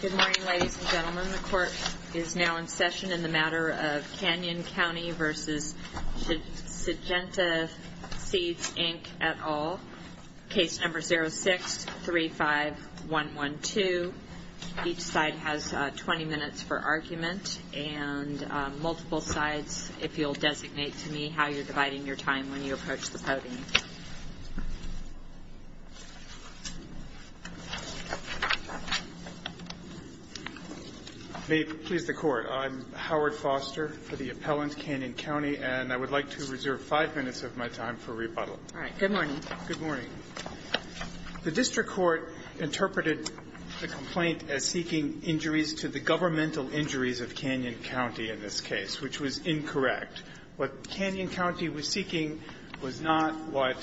Good morning, ladies and gentlemen. The court is now in session in the matter of Canyon County v. Syngenta Seeds Inc. et al. Case number 06-35112. Each side has 20 minutes for argument, and multiple sides, if you'll designate to me how you're dividing your time when you approach the podium. Howard Foster May it please the Court, I'm Howard Foster for the appellant, Canyon County, and I would like to reserve five minutes of my time for rebuttal. Kagan Good morning. Foster Good morning. The district court interpreted the complaint as seeking injuries to the governmental injuries of Canyon County in this case, which was incorrect. What Canyon County was seeking was not what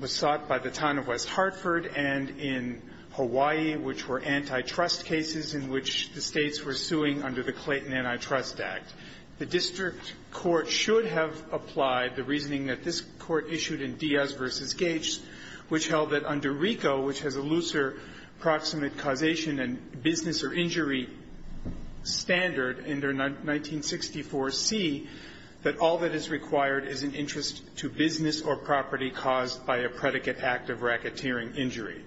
was sought by the town of West Hartford and in Hawaii, which were antitrust cases in which the States were suing under the Clayton Antitrust Act. The district court should have applied the reasoning that this Court issued in Diaz v. Gage, which held that under RICO, which has a looser proximate causation and business or injury standard under 1964C, that all that is required is an interest to business or property caused by a predicate act of racketeering injury.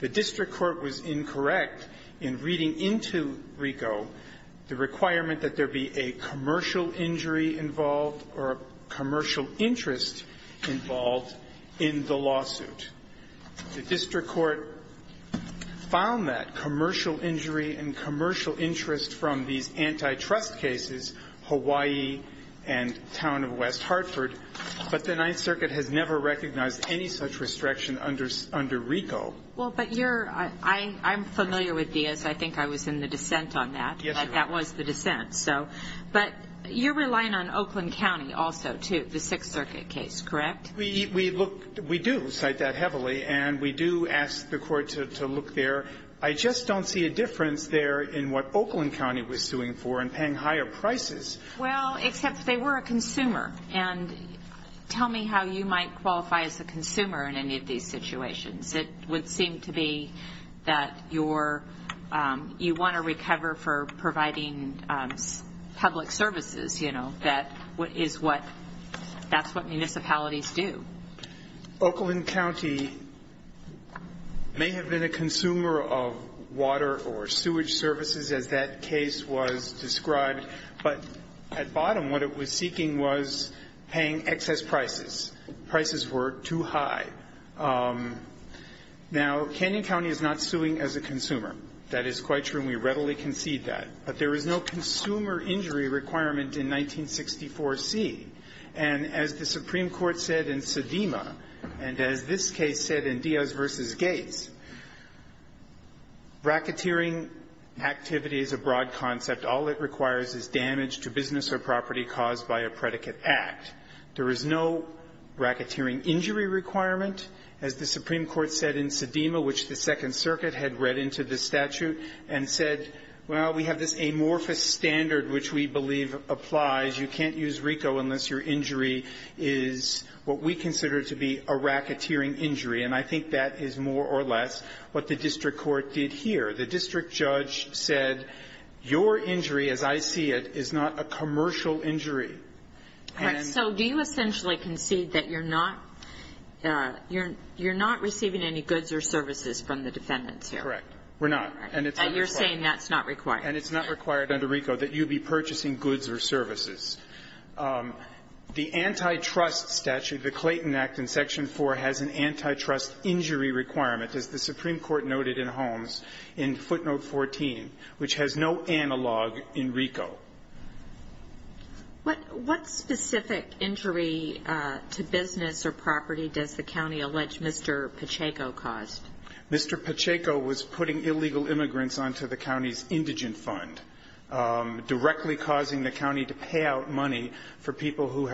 The district court was incorrect in reading into RICO the requirement that there be a commercial injury involved or a commercial interest involved in the lawsuit. The district court found that commercial injury and commercial interest from these antitrust cases, Hawaii and town of West Hartford, but the Ninth Circuit has never recognized any such restriction under RICO. Kagan Well, but you're – I'm familiar with Diaz. I think I was in the dissent on that. Foster Yes, you were. Kagan But that was the dissent. So – but you're relying on Oakland County also, too, the Sixth Circuit case, correct? Foster We look – we do cite that heavily, and we do ask the Court to look there. I just don't see a difference there in what Oakland County was suing for and paying higher prices. Kagan Well, except they were a consumer. And tell me how you might qualify as a consumer in any of these situations. It would seem to be that you're – you want to recover for providing public services, you know, that is what – that's what municipalities do. Foster Oakland County may have been a consumer of water or sewage services, as that case was described. But at bottom, what it was seeking was paying excess prices. Prices were too high. Now, Canyon County is not suing as a consumer. That is quite true, and we readily concede that. But there is no consumer injury requirement in 1964c. And as the Supreme Court said in Sedema, and as this case said in Diaz v. Gates, racketeering activity is a broad concept. All it requires is damage to business or property caused by a predicate act. There is no racketeering injury requirement, as the Supreme Court said in Sedema, which the Second Circuit had read into the statute and said, well, we have this amorphous standard which we believe applies. You can't use RICO unless your injury is what we consider to be a racketeering injury. And I think that is more or less what the district court did here. The district judge said, your injury, as I see it, is not a commercial injury. And so do you essentially concede that you're not you're not receiving any goods or services from the defendants here? Correct. We're not. And it's not required. And you're saying that's not required. And it's not required under RICO that you be purchasing goods or services. The antitrust statute, the Clayton Act in Section 4, has an antitrust injury requirement, as the Supreme Court noted in Holmes, in footnote 14, which has no analog in RICO. What specific injury to business or property does the county allege Mr. Pacheco caused? Mr. Pacheco was putting illegal immigrants onto the county's indigent fund, directly causing the county to pay out money for people who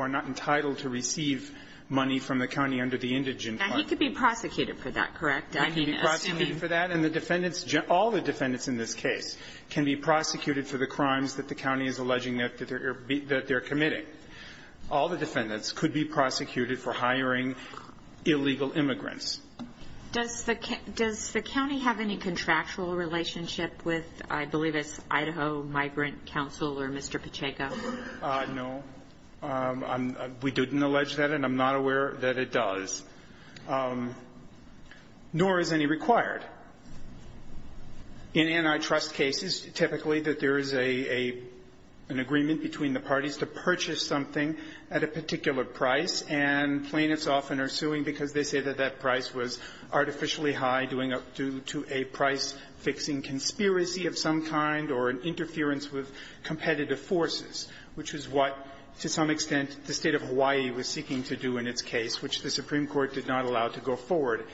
are not entitled to receive money from the county under the indigent fund. Now, he could be prosecuted for that, correct? He could be prosecuted for that. And the defendants, all the defendants in this case can be prosecuted for the crime that the county is alleging that they're committing. All the defendants could be prosecuted for hiring illegal immigrants. Does the county have any contractual relationship with, I believe it's Idaho Migrant Council or Mr. Pacheco? No. We didn't allege that, and I'm not aware that it does, nor is any required. But in antitrust cases, typically that there is a an agreement between the parties to purchase something at a particular price, and plaintiffs often are suing because they say that that price was artificially high due to a price-fixing conspiracy of some kind or an interference with competitive forces, which is what, to some extent, the State of Hawaii was seeking to do in its case, which the Supreme Court did not allow to go forward.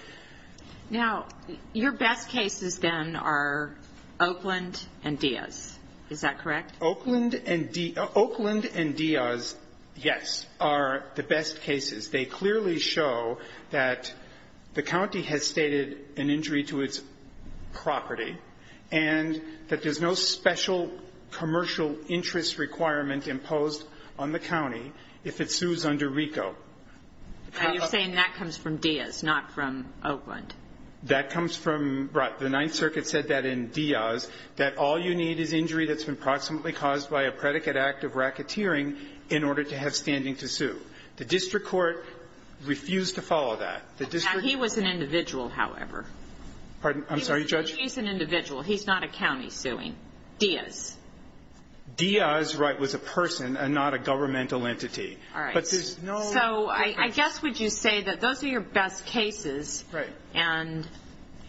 Now, your best cases, then, are Oakland and Diaz. Is that correct? Oakland and Diaz, yes, are the best cases. They clearly show that the county has stated an injury to its property and that there's no special commercial interest requirement imposed on the county if it sues under RICO. And you're saying that comes from Diaz, not from Oakland? That comes from the Ninth Circuit said that in Diaz, that all you need is injury that's been proximately caused by a predicate act of racketeering in order to have standing to sue. The district court refused to follow that. Now, he was an individual, however. Pardon? I'm sorry, Judge? He's an individual. He's not a county suing. Diaz. Diaz, right, was a person and not a governmental entity. All right. So, I guess would you say that those are your best cases, and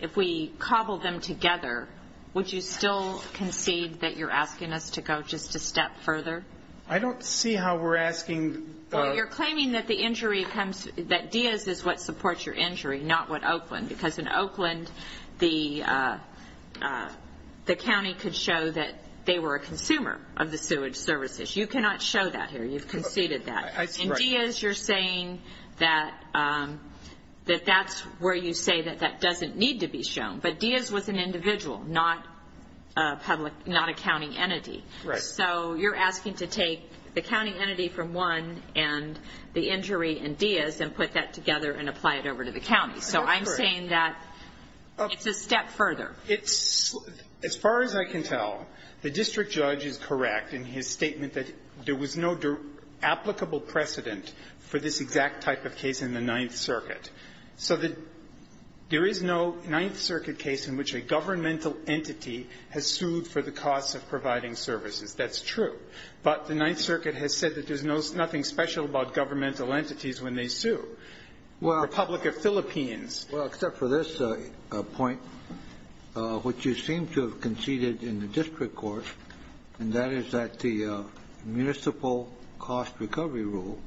if we cobble them together, would you still concede that you're asking us to go just a step further? I don't see how we're asking. Well, you're claiming that Diaz is what supports your injury, not what Oakland, because in Oakland, the county could show that they were a consumer of the sewage services. You cannot show that here. You've conceded that. In Diaz, you're saying that that's where you say that that doesn't need to be shown. But Diaz was an individual, not a county entity. Right. So, you're asking to take the county entity from one and the injury in Diaz and put that together and apply it over to the county. So, I'm saying that it's a step further. As far as I can tell, the district judge is correct in his statement that there is no applicable precedent for this exact type of case in the Ninth Circuit. So, there is no Ninth Circuit case in which a governmental entity has sued for the costs of providing services. That's true. But the Ninth Circuit has said that there's nothing special about governmental entities when they sue. The Republic of Philippines. Well, except for this point, which you seem to have conceded in the district court, and that is that the municipal cost recovery rule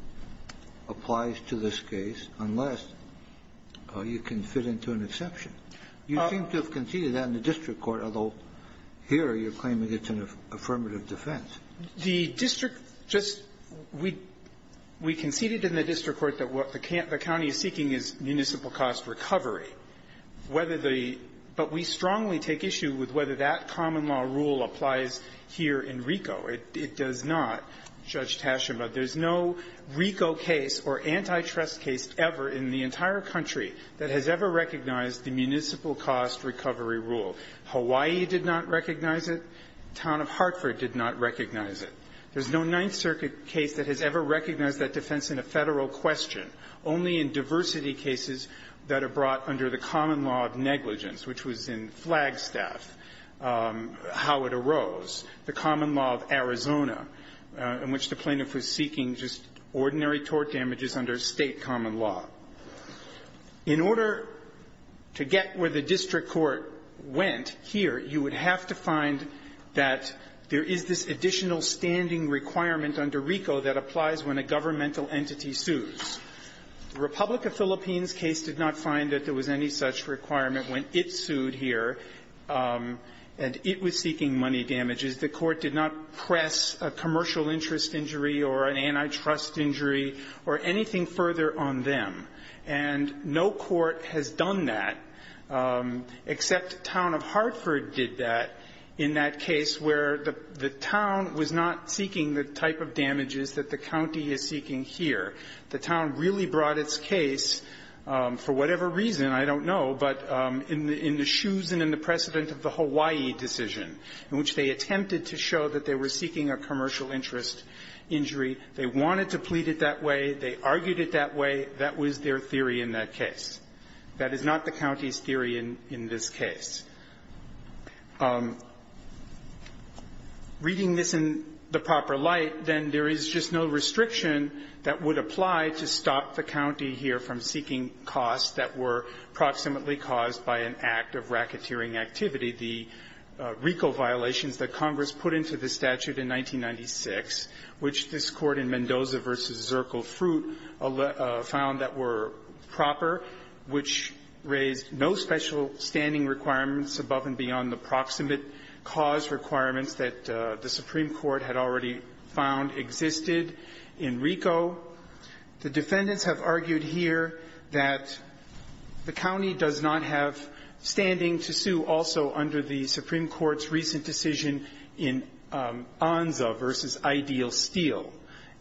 applies to this case, unless you can fit into an exception. You seem to have conceded that in the district court, although here you're claiming it's an affirmative defense. The district just we conceded in the district court that what the county is seeking is municipal cost recovery. Whether the – but we strongly take issue with whether that common law rule applies here in RICO. It does not, Judge Tashima. There's no RICO case or antitrust case ever in the entire country that has ever recognized the municipal cost recovery rule. Hawaii did not recognize it. Town of Hartford did not recognize it. There's no Ninth Circuit case that has ever recognized that defense in a federal question, only in diversity cases that are brought under the common law of negligence, which was in Flagstaff, how it arose, the common law of Arizona, in which the plaintiff was seeking just ordinary tort damages under state common law. In order to get where the district court went here, you would have to find that there is this additional standing requirement under RICO that applies when a governmental entity sues. The Republic of Philippines case did not find that there was any such requirement when it sued here, and it was seeking money damages. The court did not press a commercial interest injury or an antitrust injury or anything further on them. And no court has done that, except Town of Hartford did that in that case where the town really brought its case, for whatever reason, I don't know, but in the shoes and in the precedent of the Hawaii decision, in which they attempted to show that they were seeking a commercial interest injury. They wanted to plead it that way. They argued it that way. That was their theory in that case. That is not the county's theory in this case. Reading this in the proper light, then there is just no restriction that would apply to stop the county here from seeking costs that were proximately caused by an act of racketeering activity. The RICO violations that Congress put into the statute in 1996, which this Court in Mendoza v. Zirkle Fruit found that were proper, which raised no special standing requirements above and beyond the proximate cause requirements that the Supreme Court had already found existed in RICO. The defendants have argued here that the county does not have standing to sue also under the Supreme Court's recent decision in Onza v. Ideal Steel.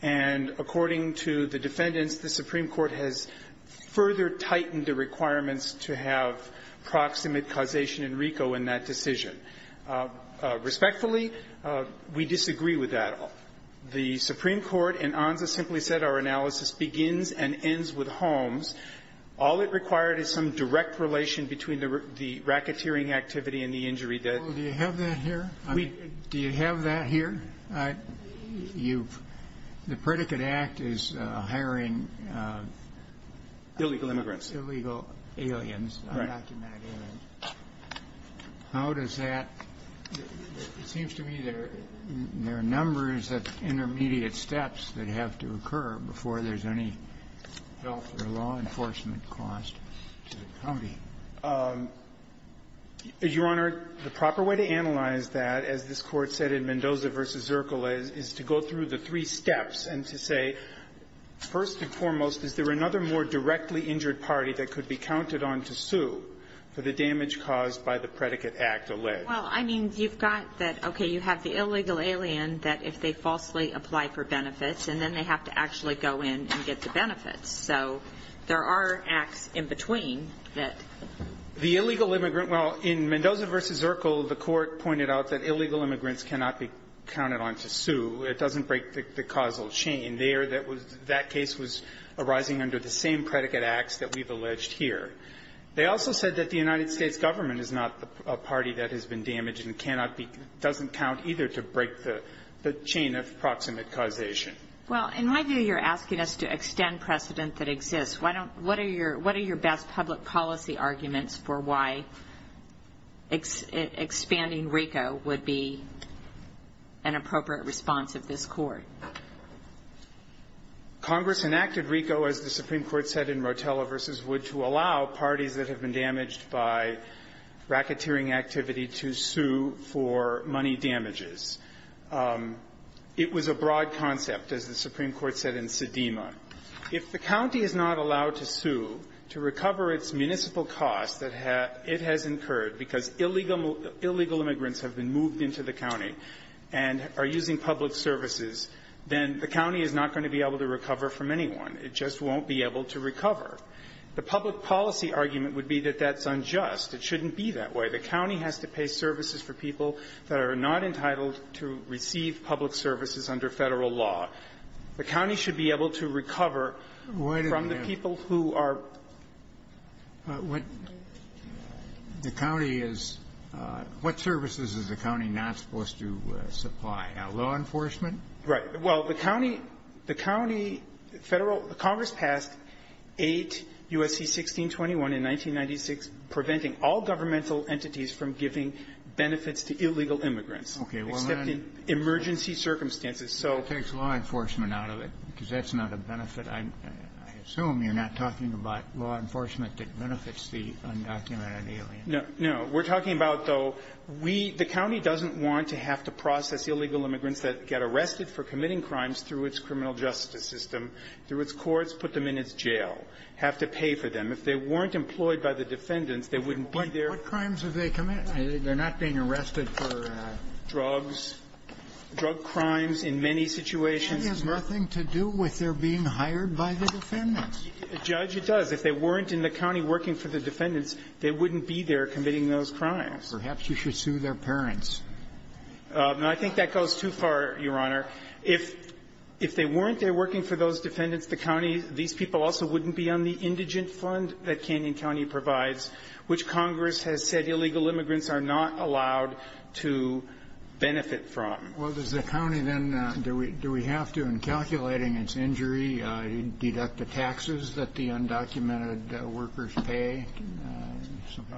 And according to the defendants, the Supreme Court has further tightened the requirements to have proximate causation in RICO in that decision. Respectfully, we disagree with that. The Supreme Court in Onza simply said our analysis begins and ends with Holmes. All it required is some direct relation between the racketeering activity and the injury that the county had. Do you have that here? I mean, do you have that here? You've the Predicate Act is hiring illegal immigrants. Illegal aliens. Right. How does that? It seems to me there are numbers of intermediate steps that have to occur before there's any health or law enforcement cost to the county. Your Honor, the proper way to analyze that, as this Court said in Mendoza v. Zirkle, is to go through the three steps and to say, first and foremost, is there another more directly injured party that could be counted on to sue for the damage caused by the Predicate Act alleged? Well, I mean, you've got that, okay, you have the illegal alien that if they falsely apply for benefits, and then they have to actually go in and get the benefits. So there are acts in between that. The illegal immigrant – well, in Mendoza v. Zirkle, the Court pointed out that illegal immigrants cannot be counted on to sue. It doesn't break the causal chain. That case was arising under the same Predicate Acts that we've alleged here. They also said that the United States government is not a party that has been damaged and doesn't count either to break the chain of proximate causation. Well, in my view, you're asking us to extend precedent that exists. What are your best public policy arguments for why expanding RICO would be an appropriate response of this Court? Congress enacted RICO, as the Supreme Court said in Rotella v. Wood, to allow parties that have been damaged by racketeering activity to sue for money damages. It was a broad concept, as the Supreme Court said in Sedema. If the county is not allowed to sue to recover its municipal costs that it has incurred because illegal immigrants have been moved into the county and are using public services, then the county is not going to be able to recover from anyone. It just won't be able to recover. The public policy argument would be that that's unjust. It shouldn't be that way. The county has to pay services for people that are not entitled to receive public services under Federal law. The county should be able to recover from the people who are — The county is — what services is the county not supposed to supply? Now, law enforcement? Right. Well, the county — the county Federal — Congress passed 8 U.S.C. 1621 in 1996 preventing all governmental entities from giving benefits to illegal immigrants. Okay. Well, then — Except in emergency circumstances. So — It takes law enforcement out of it, because that's not a benefit. I assume you're not talking about law enforcement that benefits the undocumented alien. No. No. We're talking about, though, we — the county doesn't want to have to process illegal immigrants that get arrested for committing crimes through its criminal justice system, through its courts, put them in its jail, have to pay for them. If they weren't employed by the defendants, they wouldn't be there. What crimes have they committed? They're not being arrested for drugs, drug crimes in many situations. That has nothing to do with their being hired by the defendants. Judge, it does. If they weren't in the county working for the defendants, they wouldn't be there committing those crimes. Perhaps you should sue their parents. I think that goes too far, Your Honor. If they weren't there working for those defendants, the county — these people also wouldn't be on the indigent fund that Canyon County provides, which Congress has said illegal immigrants are not allowed to benefit from. Well, does the county then — do we have to, in calculating its injury, deduct the taxes that the undocumented workers pay?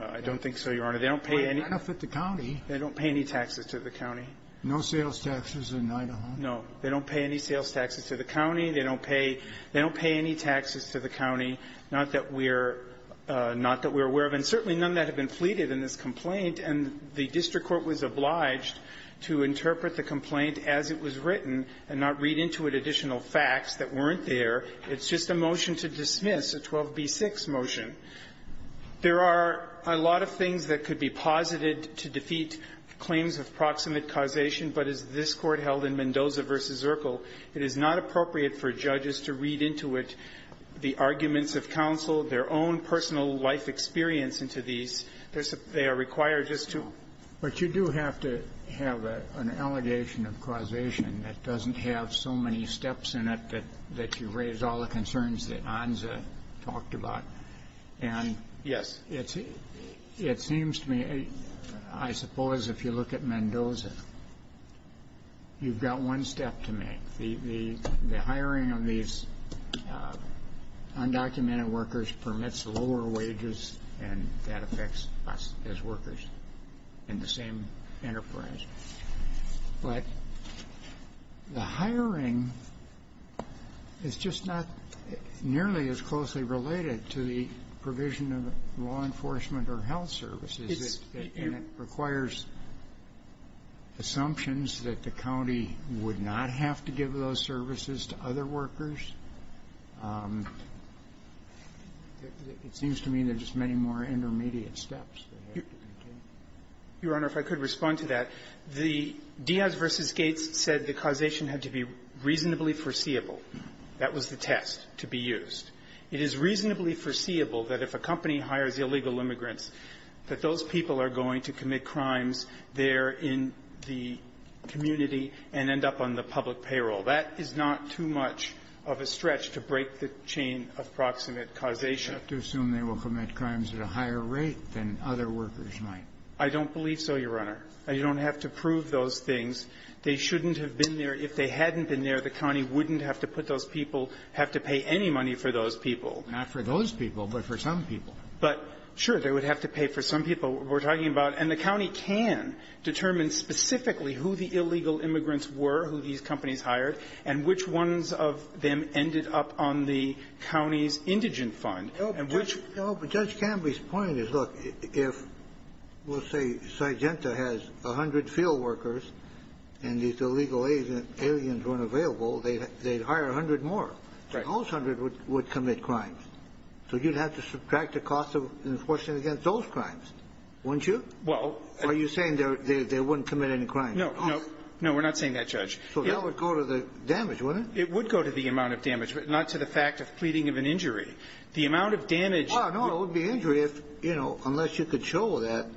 I don't think so, Your Honor. They don't pay any — Well, they benefit the county. They don't pay any taxes to the county. No sales taxes in Idaho? No. They don't pay any sales taxes to the county. They don't pay — they don't pay any taxes to the county, not that we're — not that we're aware of. And certainly none of that have been pleaded in this complaint. And the district court was obliged to interpret the complaint as it was written and not read into it additional facts that weren't there. It's just a motion to dismiss, a 12b-6 motion. There are a lot of things that could be posited to defeat claims of proximate causation, but as this Court held in Mendoza v. Zirkle, it is not appropriate for judges to read into it the arguments of counsel, their own personal life experience into these. They are required just to — But you do have to have an allegation of causation that doesn't have so many steps in it that you raise all the concerns that Anza talked about. And yes, it seems to me — I suppose if you look at Mendoza, you've got one step to make. The hiring of these undocumented workers permits lower wages, and that affects us as workers in the same enterprise. But the hiring is just not nearly as closely related to the provision of law enforcement or health services. It's — And it requires assumptions that the county would not have to give those services to other workers. It seems to me there's many more intermediate steps that have to be taken. Your Honor, if I could respond to that. The Diaz v. Gates said the causation had to be reasonably foreseeable. That was the test to be used. It is reasonably foreseeable that if a company hires illegal immigrants, that those people are going to commit crimes there in the community and end up on the public payroll. That is not too much of a stretch to break the chain of proximate causation. You have to assume they will commit crimes at a higher rate than other workers might. I don't believe so, Your Honor. You don't have to prove those things. They shouldn't have been there. If they hadn't been there, the county wouldn't have to put those people — have to pay any money for those people. Not for those people, but for some people. But, sure, they would have to pay for some people. We're talking about — and the county can determine specifically who the illegal immigrants were, who these companies hired, and which ones of them ended up on the payroll. And which — No, but Judge Cambly's point is, look, if, let's say, Sygenta has 100 field workers and these illegal aliens weren't available, they'd hire 100 more. Right. Those 100 would commit crimes. So you'd have to subtract the cost of enforcing against those crimes, wouldn't you? Well — Are you saying they wouldn't commit any crimes? No. No. No, we're not saying that, Judge. So that would go to the damage, wouldn't it? It would go to the amount of damage, but not to the fact of pleading of an injury. The amount of damage — Well, no, it would be injury if — you know, unless you could show that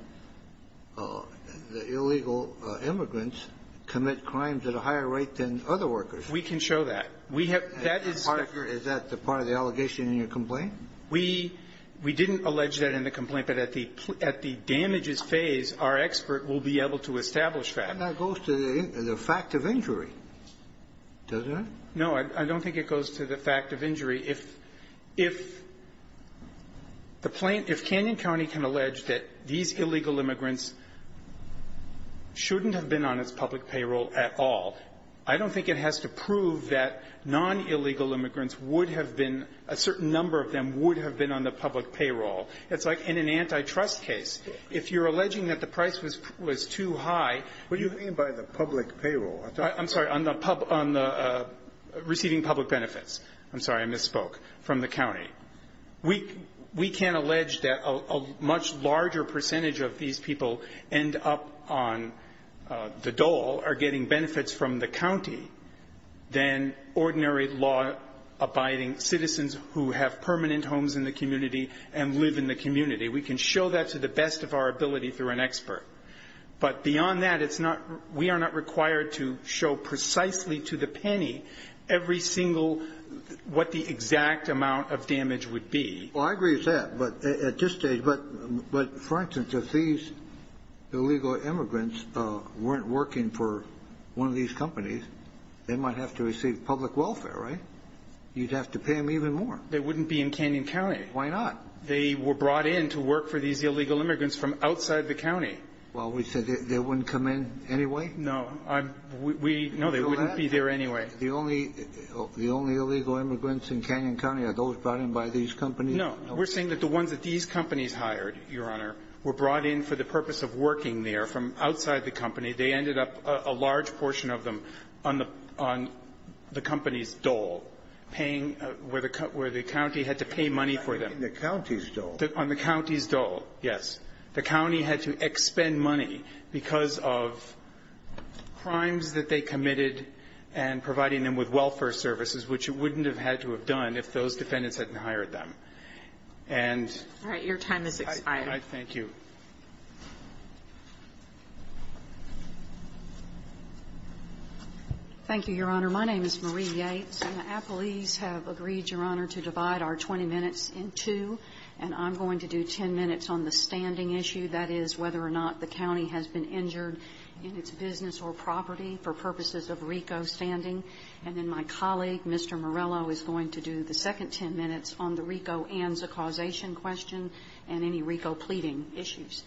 the illegal immigrants commit crimes at a higher rate than other workers. We can show that. We have — that is — Is that part of the allegation in your complaint? We — we didn't allege that in the complaint, but at the — at the damages phase, our expert will be able to establish that. But that goes to the fact of injury, doesn't it? No. I don't think it goes to the fact of injury. If — if the plaintiff — if Canyon County can allege that these illegal immigrants shouldn't have been on its public payroll at all, I don't think it has to prove that non-illegal immigrants would have been — a certain number of them would have been on the public payroll. It's like in an antitrust case. If you're alleging that the price was too high — What do you mean by the public payroll? I'm sorry, on the — on the receiving public benefits. I'm sorry, I misspoke. From the county. We can't allege that a much larger percentage of these people end up on the dole or getting benefits from the county than ordinary law-abiding citizens who have permanent homes in the community and live in the community. We can show that to the best of our ability through an expert. But beyond that, it's not — we are not required to show precisely to the penny every single — what the exact amount of damage would be. Well, I agree with that. But at this stage — but for instance, if these illegal immigrants weren't working for one of these companies, they might have to receive public welfare, right? You'd have to pay them even more. They wouldn't be in Canyon County. Why not? They were brought in to work for these illegal immigrants from outside the county. Well, we said they wouldn't come in anyway? No. We — no, they wouldn't be there anyway. The only — the only illegal immigrants in Canyon County are those brought in by these companies? No. We're saying that the ones that these companies hired, Your Honor, were brought in for the purpose of working there from outside the company. They ended up — a large portion of them on the company's dole, paying — where the county had to pay money for them. On the county's dole? On the county's dole, yes. The county had to expend money because of crimes that they committed and providing them with welfare services, which it wouldn't have had to have done if those defendants hadn't hired them. And — All right. Your time has expired. Thank you. Thank you, Your Honor. My name is Marie Yates. And the appellees have agreed, Your Honor, to divide our 20 minutes in two. And I'm going to do 10 minutes on the standing issue, that is whether or not the county has been injured in its business or property for purposes of RICO standing. And then my colleague, Mr. Morello, is going to do the second 10 minutes on the RICO and the causation question and any RICO pleading issues.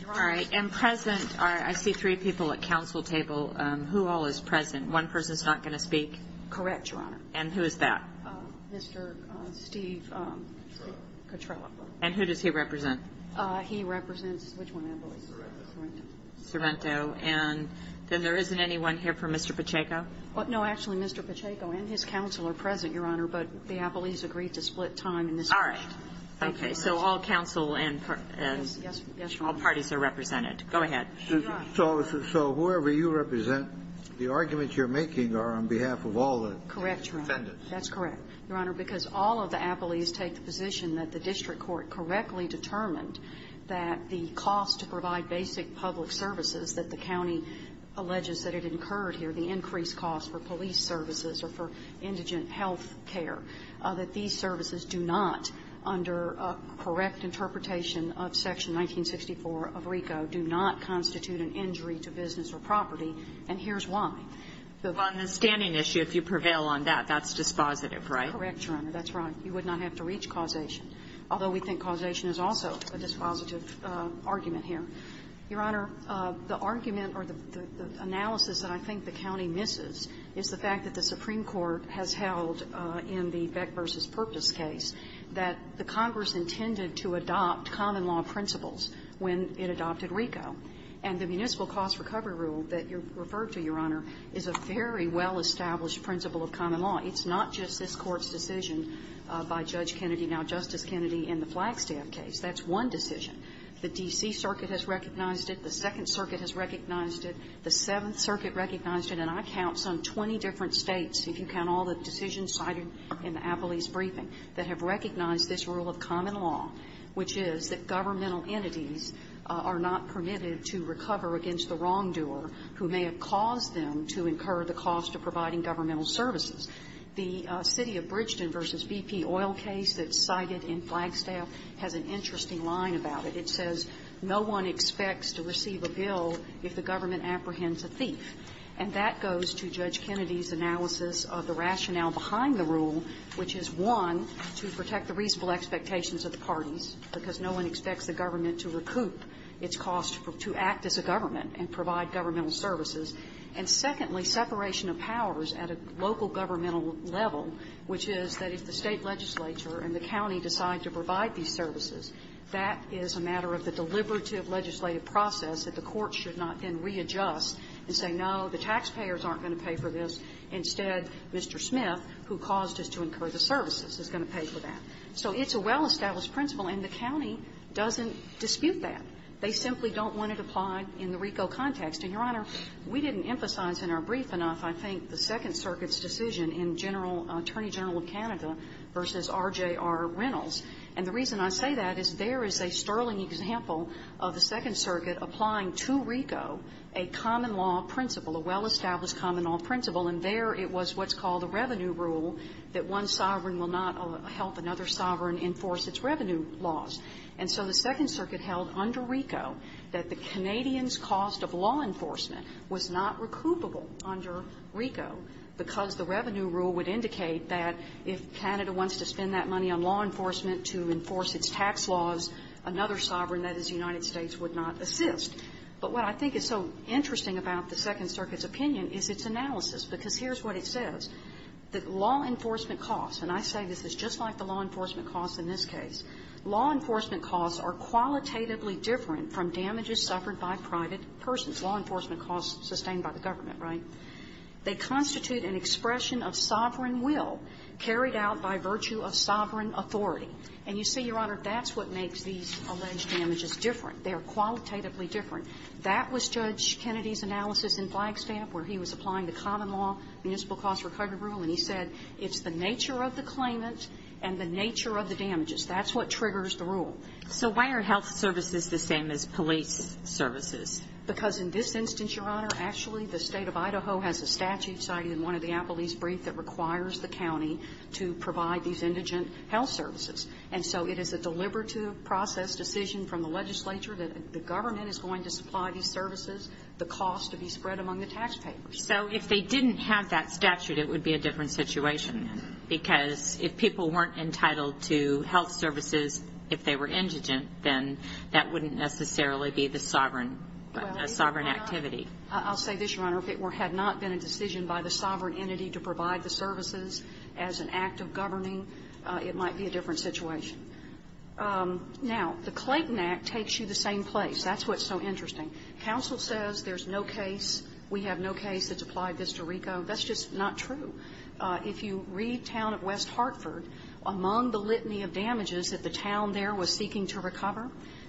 Your Honor — All right. And present are — I see three people at counsel table. Who all is present? One person's not going to speak? Correct, Your Honor. And who is that? Mr. Steve — Cotrella. Cotrella. And who does he represent? He represents — which one, I believe? Sorrento. Sorrento. And then there isn't anyone here for Mr. Pacheco? No, actually, Mr. Pacheco and his counsel are present, Your Honor, but the appellees agreed to split time in this — All right. Okay. So all counsel and — Yes. Yes, Your Honor. All parties are represented. Go ahead. Your Honor — So whoever you represent, the arguments you're making are on behalf of all the — Correct, Your Honor. — defendants. That's correct, Your Honor, because all of the appellees take the position that the district court correctly determined that the cost to provide basic public services that the county alleges that it incurred here, the increased cost for police services or for indigent health care, that these services do not, under a correct interpretation of Section 1964 of RICO, do not constitute an injury to business or property, and here's why. On the standing issue, if you prevail on that, that's dispositive, right? Correct, Your Honor. That's right. You would not have to reach causation, although we think causation is also a dispositive argument here. Your Honor, the argument or the analysis that I think the county misses is the fact that it was intended to adopt common law principles when it adopted RICO, and the municipal cost recovery rule that you referred to, Your Honor, is a very well-established principle of common law. It's not just this Court's decision by Judge Kennedy, now Justice Kennedy, in the Flagstaff case. That's one decision. The D.C. Circuit has recognized it. The Second Circuit has recognized it. The Seventh Circuit recognized it. And I count some 20 different states, if you count all the decisions cited in the law, which is that governmental entities are not permitted to recover against the wrongdoer who may have caused them to incur the cost of providing governmental services. The city of Bridgeton v. BP oil case that's cited in Flagstaff has an interesting line about it. It says, no one expects to receive a bill if the government apprehends a thief. And that goes to Judge Kennedy's analysis of the rationale behind the rule, which is, one, to protect the reasonable expectations of the parties, because no one expects the government to recoup its cost to act as a government and provide governmental services, and secondly, separation of powers at a local governmental level, which is that if the State legislature and the county decide to provide these services, that is a matter of the deliberative legislative process that the Court should not then readjust and say, no, the taxpayers aren't going to pay for this. Instead, Mr. Smith, who caused us to incur the services, is going to pay for that. So it's a well-established principle, and the county doesn't dispute that. They simply don't want it applied in the RICO context. And, Your Honor, we didn't emphasize in our brief enough, I think, the Second Circuit's decision in Attorney General of Canada v. RJR Reynolds. And the reason I say that is there is a sterling example of the Second Circuit applying to RICO a common law principle, a well-established common law principle, and there it was what's called a revenue rule that one sovereign will not help another sovereign enforce its revenue laws. And so the Second Circuit held under RICO that the Canadians' cost of law enforcement was not recoupable under RICO because the revenue rule would indicate that if Canada wants to spend that money on law enforcement to enforce its tax laws, another sovereign, that is the United States, would not assist. But what I think is so interesting about the Second Circuit's opinion is its analysis, because here's what it says. The law enforcement costs, and I say this is just like the law enforcement costs in this case, law enforcement costs are qualitatively different from damages suffered by private persons. Law enforcement costs sustained by the government, right? They constitute an expression of sovereign will carried out by virtue of sovereign authority. And you see, Your Honor, that's what makes these alleged damages different. They are qualitatively different. That was Judge Kennedy's analysis in Flagstaff where he was applying the common law, municipal cost recovery rule, and he said it's the nature of the claimant and the nature of the damages. That's what triggers the rule. So why are health services the same as police services? Because in this instance, Your Honor, actually the State of Idaho has a statute cited in one of the Applebee's briefs that requires the county to provide these services, and so it is a deliberative process decision from the legislature that the government is going to supply these services, the cost to be spread among the taxpayers. So if they didn't have that statute, it would be a different situation, because if people weren't entitled to health services, if they were indigent, then that wouldn't necessarily be the sovereign activity. Well, I'll say this, Your Honor. If it had not been a decision by the sovereign entity to provide the services as an act of governing, it might be a different situation. Now, the Clayton Act takes you to the same place. That's what's so interesting. Counsel says there's no case, we have no case that's applied this to RICO. That's just not true. If you read Town of West Hartford, among the litany of damages that the town there was seeking to recover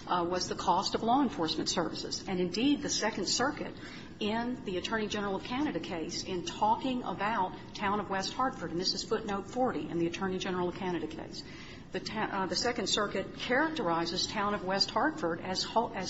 was the cost of law enforcement services. And indeed, the Second Circuit, in the Attorney General of Canada case, in talking about Town of West Hartford, and this is footnote 40 in the Attorney General of Canada case, the Second Circuit characterizes Town of West Hartford as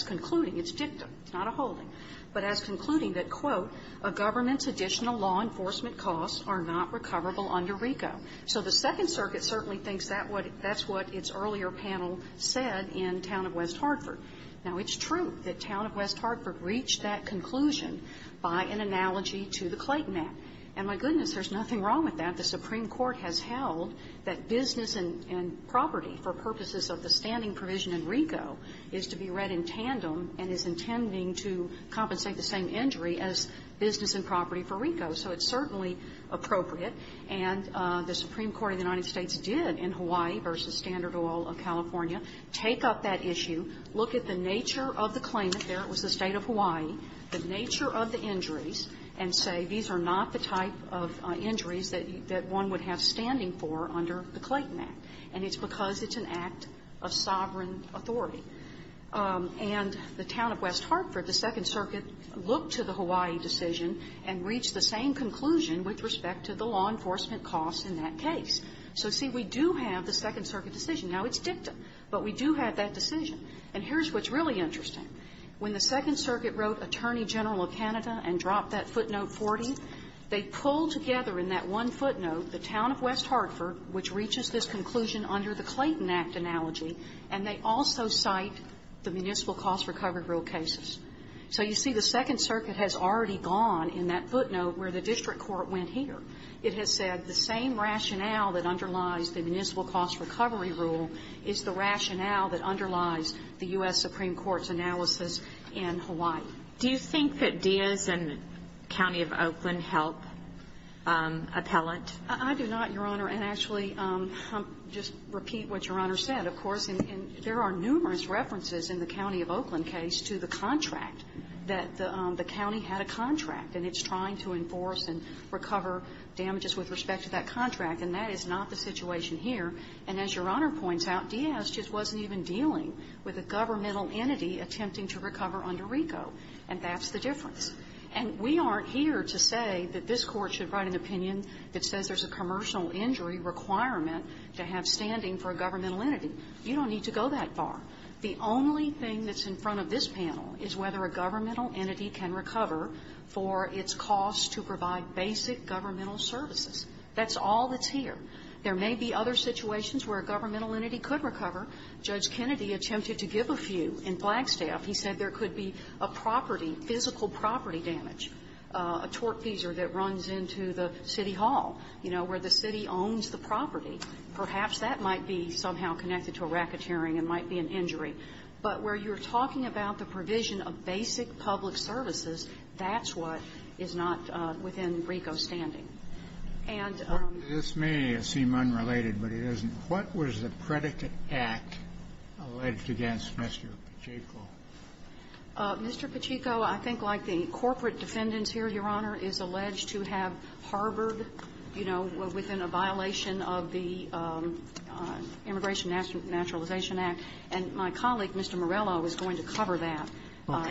concluding its dictum, it's not a holding, but as concluding that, quote, a government's additional law enforcement costs are not recoverable under RICO. So the Second Circuit certainly thinks that's what its earlier panel said in Town of West Hartford. Now, it's true that Town of West Hartford reached that conclusion by an analogy to the Clayton Act. And my goodness, there's nothing wrong with that. The Supreme Court has held that business and property, for purposes of the standing provision in RICO, is to be read in tandem and is intending to compensate the same injury as business and property for RICO. So it's certainly appropriate. And the Supreme Court of the United States did, in Hawaii v. Standard Oil of California, take up that issue, look at the nature of the claimant there, it was the State of Hawaii, the nature of the injuries, and say, these are not the type of injuries that one would have standing for under the Clayton Act. And it's because it's an act of sovereign authority. And the Town of West Hartford, the Second Circuit looked to the Hawaii decision and reached the same conclusion with respect to the law enforcement costs in that case. So, see, we do have the Second Circuit decision. Now, it's dictum, but we do have that decision. And here's what's really interesting. When the Second Circuit wrote Attorney General of Canada and dropped that footnote 40, they pulled together in that one footnote the Town of West Hartford, which reaches this conclusion under the Clayton Act analogy, and they also cite the Municipal Cost Recovery Rule cases. So you see, the Second Circuit has already gone in that footnote where the district court went here. It has said the same rationale that underlies the Municipal Cost Recovery Rule is the U.S. Supreme Court's analysis in Hawaii. Do you think that Diaz and the County of Oakland helped appellate? I do not, Your Honor. And actually, I'll just repeat what Your Honor said. Of course, there are numerous references in the County of Oakland case to the contract, that the county had a contract, and it's trying to enforce and recover damages with respect to that contract. And that is not the situation here. And as Your Honor points out, Diaz just wasn't even dealing with a governmental entity attempting to recover under RICO, and that's the difference. And we aren't here to say that this Court should write an opinion that says there's a commercial injury requirement to have standing for a governmental entity. You don't need to go that far. The only thing that's in front of this panel is whether a governmental entity can recover for its costs to provide basic governmental services. That's all that's here. There may be other situations where a governmental entity could recover. Judge Kennedy attempted to give a few in Flagstaff. He said there could be a property, physical property damage, a torque teaser that runs into the city hall, you know, where the city owns the property. Perhaps that might be somehow connected to a racketeering and might be an injury. But where you're talking about the provision of basic public services, that's what is not within RICO's standing. And the other thing is that the county attorney's position, which may seem unrelated, but it isn't, what was the predicate act alleged against Mr. Pacheco? Mr. Pacheco, I think like the corporate defendants here, Your Honor, is alleged to have harbored, you know, within a violation of the Immigration Naturalization Act. And my colleague, Mr. Morello, is going to cover that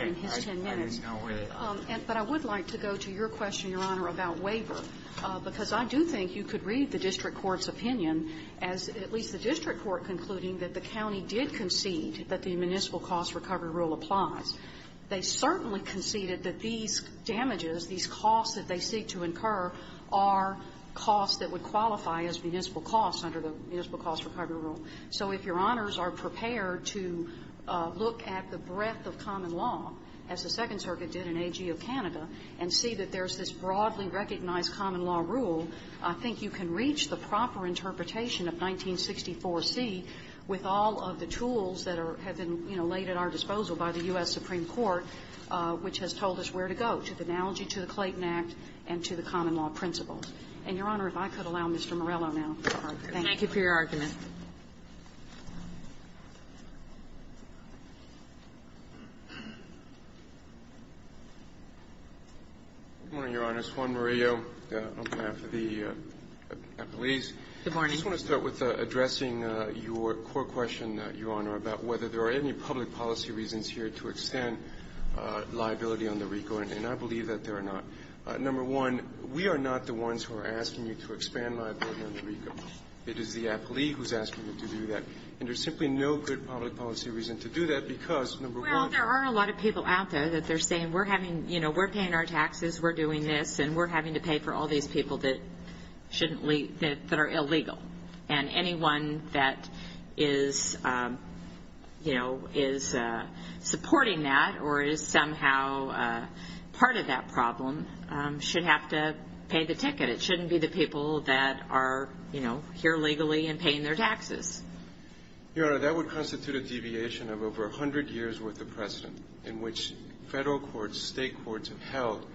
in his ten minutes. Okay. I didn't know either. But I would like to go to your question, Your Honor, about waiver, because I do think you could read the district court's opinion as at least the district court concluding that the county did concede that the Municipal Cost Recovery Rule applies. They certainly conceded that these damages, these costs that they seek to incur, are costs that would qualify as municipal costs under the Municipal Cost Recovery Rule. So if Your Honors are prepared to look at the breadth of common law, as the Second Circuit did in AG of Canada, and see that there's this broadly recognized common law rule, I think you can reach the proper interpretation of 1964c with all of the tools that are – have been, you know, laid at our disposal by the U.S. Supreme Court, which has told us where to go, to the analogy to the Clayton Act and to the common law principles. And, Your Honor, if I could allow Mr. Morello now. Thank you for your argument. Good morning, Your Honor. Juan Murillo on behalf of the appellees. Good morning. I just want to start with addressing your court question, Your Honor, about whether there are any public policy reasons here to extend liability on the RICO, and I believe that there are not. Number one, we are not the ones who are asking you to expand liability on the RICO. It is the appellee who's asking you to do that, and there's simply no good public policy reason to do that, because, number one – Well, there are a lot of people out there that they're saying, we're having – you know, we're paying our taxes, we're doing this, and we're having to pay for all these people that shouldn't – that are illegal. And anyone that is, you know, is supporting that or is somehow part of that problem should have to pay the ticket. It shouldn't be the people that are, you know, here legally and paying their taxes. Your Honor, that would constitute a deviation of over 100 years' worth of precedent in which federal courts, state courts have held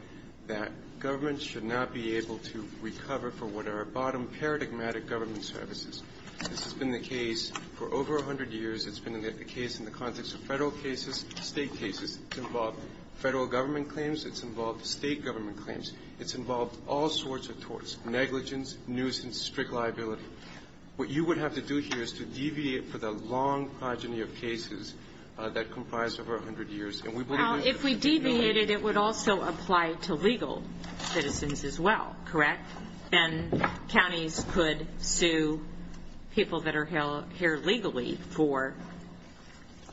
that governments should not be able to recover for what are bottom paradigmatic government services. This has been the case for over 100 years. It's been the case in the context of federal cases, state cases. It's involved federal government claims. It's involved state government claims. It's involved all sorts of torts – negligence, nuisance, strict liability. What you would have to do here is to deviate for the long progeny of cases that comprise over 100 years, and we would have been – If we deviated, it would also apply to legal citizens as well, correct? Then counties could sue people that are here legally for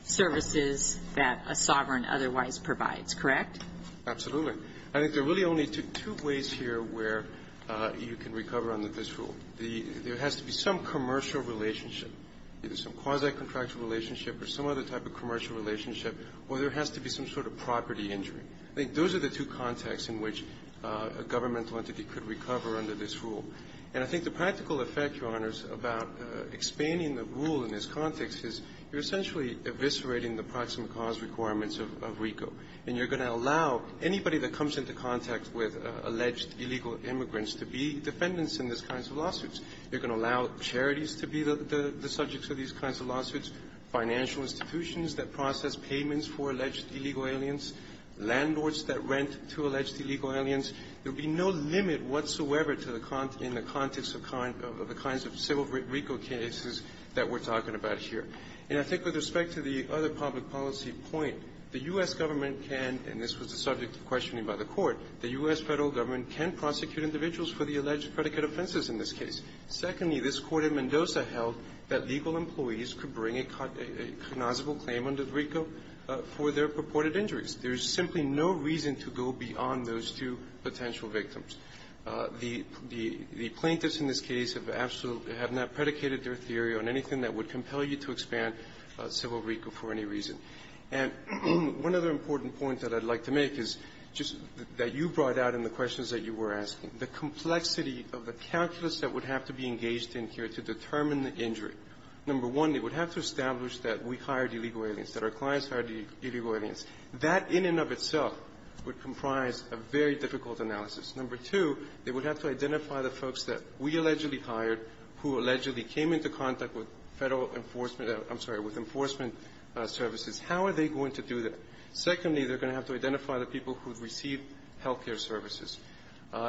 services that a sovereign otherwise provides, correct? Absolutely. I think there are really only two ways here where you can recover under this rule. There has to be some commercial relationship, either some quasi-contractual relationship or some other type of commercial relationship, or there has to be some sort of property injury. I think those are the two contexts in which a governmental entity could recover under this rule. And I think the practical effect, Your Honors, about expanding the rule in this context is you're essentially eviscerating the proximate cause requirements of RICO, and you're And I think with respect to the other public policy point, the U.S. government can – and this was the subject of questioning by the Court – the U.S. federal government can prosecute individuals for the alleged predicate offenses in this case. Secondly, this Court in Mendoza held that legal employees could bring a cognizable claim under RICO for their purported injuries. There's simply no reason to go beyond those two potential victims. The plaintiffs in this case have absolutely – have not predicated their theory on anything that would compel you to expand civil RICO for any reason. And one other important point that I'd like to make is just that you brought out in the questions that you were asking. The complexity of the calculus that would have to be engaged in here to determine the injury. Number one, they would have to establish that we hired illegal aliens, that our clients hired illegal aliens. That in and of itself would comprise a very difficult analysis. Number two, they would have to identify the folks that we allegedly hired who allegedly came into contact with federal enforcement – I'm sorry – with enforcement services. How are they going to do that? Secondly, they're going to have to identify the people who received health care services.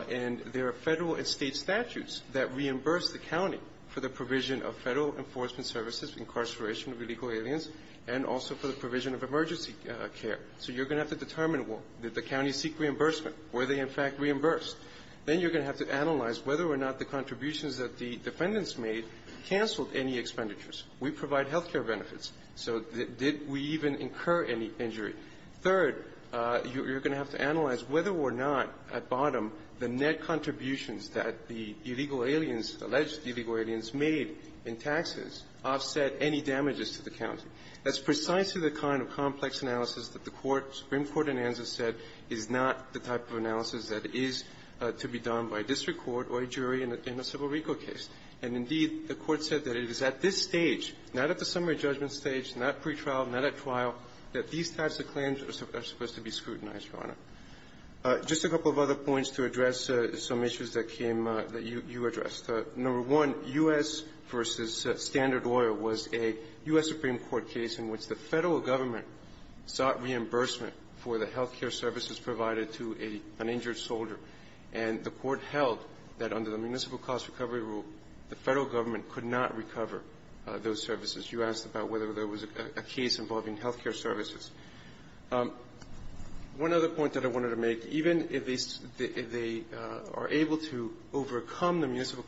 And there are federal and state statutes that reimburse the county for the provision of federal enforcement services, incarceration of illegal aliens, and also for the provision of emergency care. So you're going to have to determine, well, did the county seek reimbursement? Were they, in fact, reimbursed? Then you're going to have to analyze whether or not the contributions that the defendants made canceled any expenditures. We provide health care benefits. So did we even incur any injury? Third, you're going to have to analyze whether or not, at bottom, the net contributions that the illegal aliens, alleged illegal aliens, made in taxes offset any damages to the county. That's precisely the kind of complex analysis that the Supreme Court in Anza said is not the type of analysis that is to be done by a district court or a jury in a civil recal case. And, indeed, the Court said that it is at this stage, not at the summary judgment stage, not pretrial, not at trial, that these types of claims are supposed to be scrutinized, Your Honor. Just a couple of other points to address some issues that came up that you addressed. Number one, U.S. v. Standard Oil was a U.S. Supreme Court case in which the Federal Government sought reimbursement for the health care services provided to an injured soldier. And the Court held that under the municipal cost recovery rule, the Federal Government could not recover those services. You asked about whether there was a case involving health care services. One other point that I wanted to make, even if they are able to overcome the municipal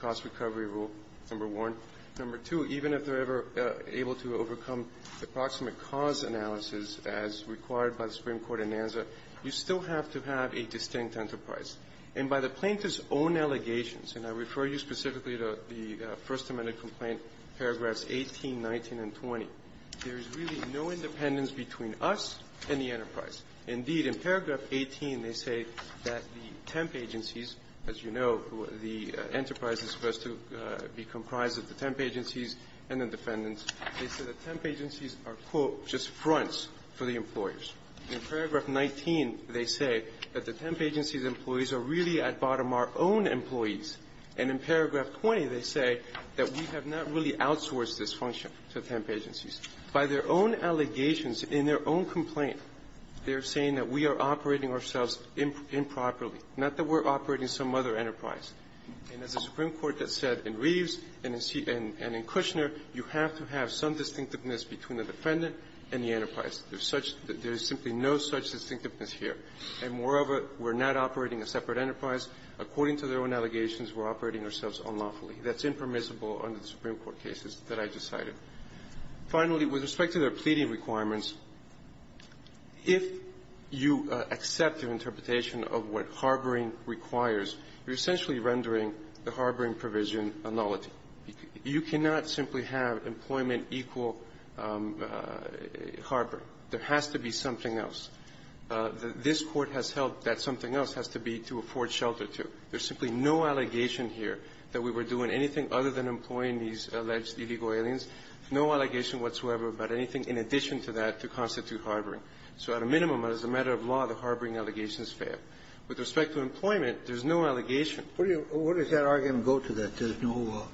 cost recovery rule, number one. Number two, even if they're ever able to overcome the proximate cause analysis as required by the Supreme Court in Anza, you still have to have a distinct enterprise. And by the plaintiff's own allegations, and I refer you specifically to the First Amendment complaint, paragraphs 18, 19, and 20, there is really no independence between us and the enterprise. Indeed, in paragraph 18, they say that the temp agencies, as you know, the enterprise is supposed to be comprised of the temp agencies and the defendants. They say the temp agencies are, quote, just fronts for the employers. In paragraph 19, they say that the temp agency's employees are really at bottom our own employees. And in paragraph 20, they say that we have not really outsourced this function to temp agencies. By their own allegations in their own complaint, they're saying that we are operating ourselves improperly, not that we're operating some other enterprise. And as the Supreme Court has said in Reeves and in Kushner, you have to have some distinctiveness between the defendant and the enterprise. There's such – there is simply no such distinctiveness here. And moreover, we're not operating a separate enterprise. According to their own allegations, we're operating ourselves unlawfully. That's impermissible under the Supreme Court cases that I just cited. Finally, with respect to their pleading requirements, if you accept their interpretation of what harboring requires, you're essentially rendering the harboring provision a nullity. You cannot simply have employment equal harboring. There has to be something else. This Court has held that something else has to be to afford shelter to. There's simply no allegation here that we were doing anything other than employing these alleged illegal aliens, no allegation whatsoever about anything in addition to that to constitute harboring. So at a minimum, as a matter of law, the harboring allegations fail. With respect to employment, there's no allegation. What does that argument go to, that there's no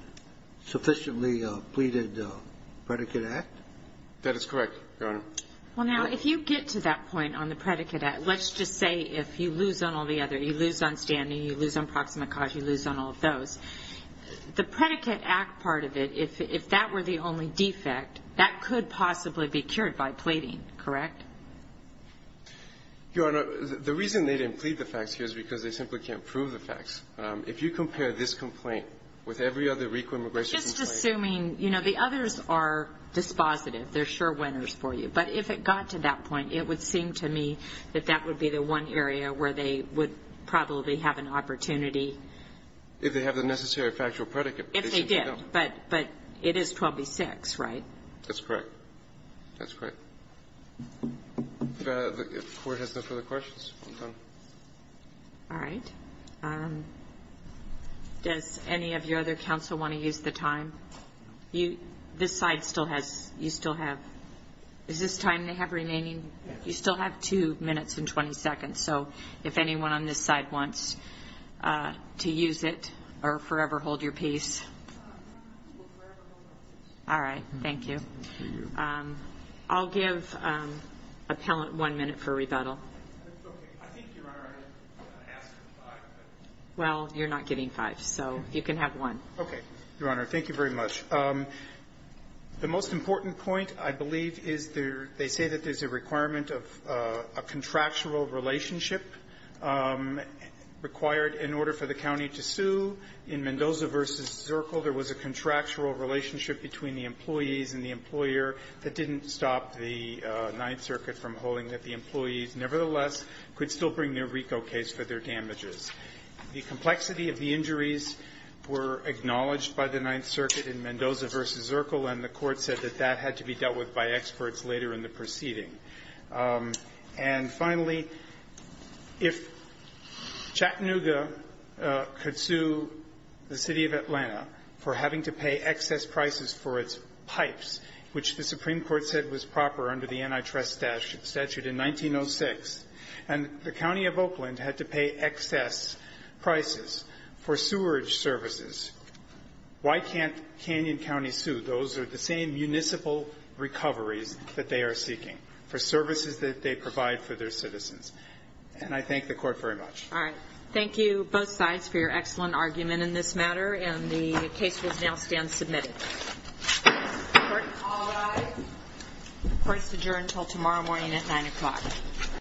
sufficiently pleaded predicate act? That is correct, Your Honor. Well, now, if you get to that point on the predicate act, let's just say if you lose on all the other – you lose on standing, you lose on proximate cause, you lose on all of those. The predicate act part of it, if that were the only defect, that could possibly be cured by pleading, correct? Your Honor, the reason they didn't plead the facts here is because they simply can't prove the facts. If you compare this complaint with every other RICO immigration complaint Just assuming, you know, the others are dispositive. They're sure winners for you. But if it got to that point, it would seem to me that that would be the one area where they would probably have an opportunity. If they have the necessary factual predicate. If they did. But it is 12B6, right? That's correct. That's correct. If the Court has no further questions, I'm done. All right. Does any of your other counsel want to use the time? This side still has – you still have – is this time they have remaining? You still have two minutes and 20 seconds. So, if anyone on this side wants to use it or forever hold your peace. All right. I'll give appellant one minute for rebuttal. I think, Your Honor, I asked for five. Well, you're not getting five. So, you can have one. Okay. Your Honor, thank you very much. The most important point, I believe, is they say that there's a requirement of a contractual relationship required in order for the county to sue. In Mendoza versus Zirkle, there was a contractual relationship between the employees and the employer that didn't stop the Ninth Circuit from holding that the employees nevertheless could still bring their RICO case for their damages. The complexity of the injuries were acknowledged by the Ninth Circuit in Mendoza versus Zirkle, and the Court said that that had to be dealt with by experts later in the proceeding. And finally, if Chattanooga could sue the City of Atlanta for having to pay excess prices for its pipes, which the Supreme Court said was proper under the Antitrust Statute in 1906, and the County of Oakland had to pay excess prices for sewerage services, why can't Canyon County sue? Those are the same municipal recoveries that they are seeking for services that they provide for their citizens. And I thank the Court very much. All right. Thank you, both sides, for your excellent argument in this matter, and the case will now stand submitted. The Court may call the ayes. Court is adjourned until tomorrow morning at 9 o'clock.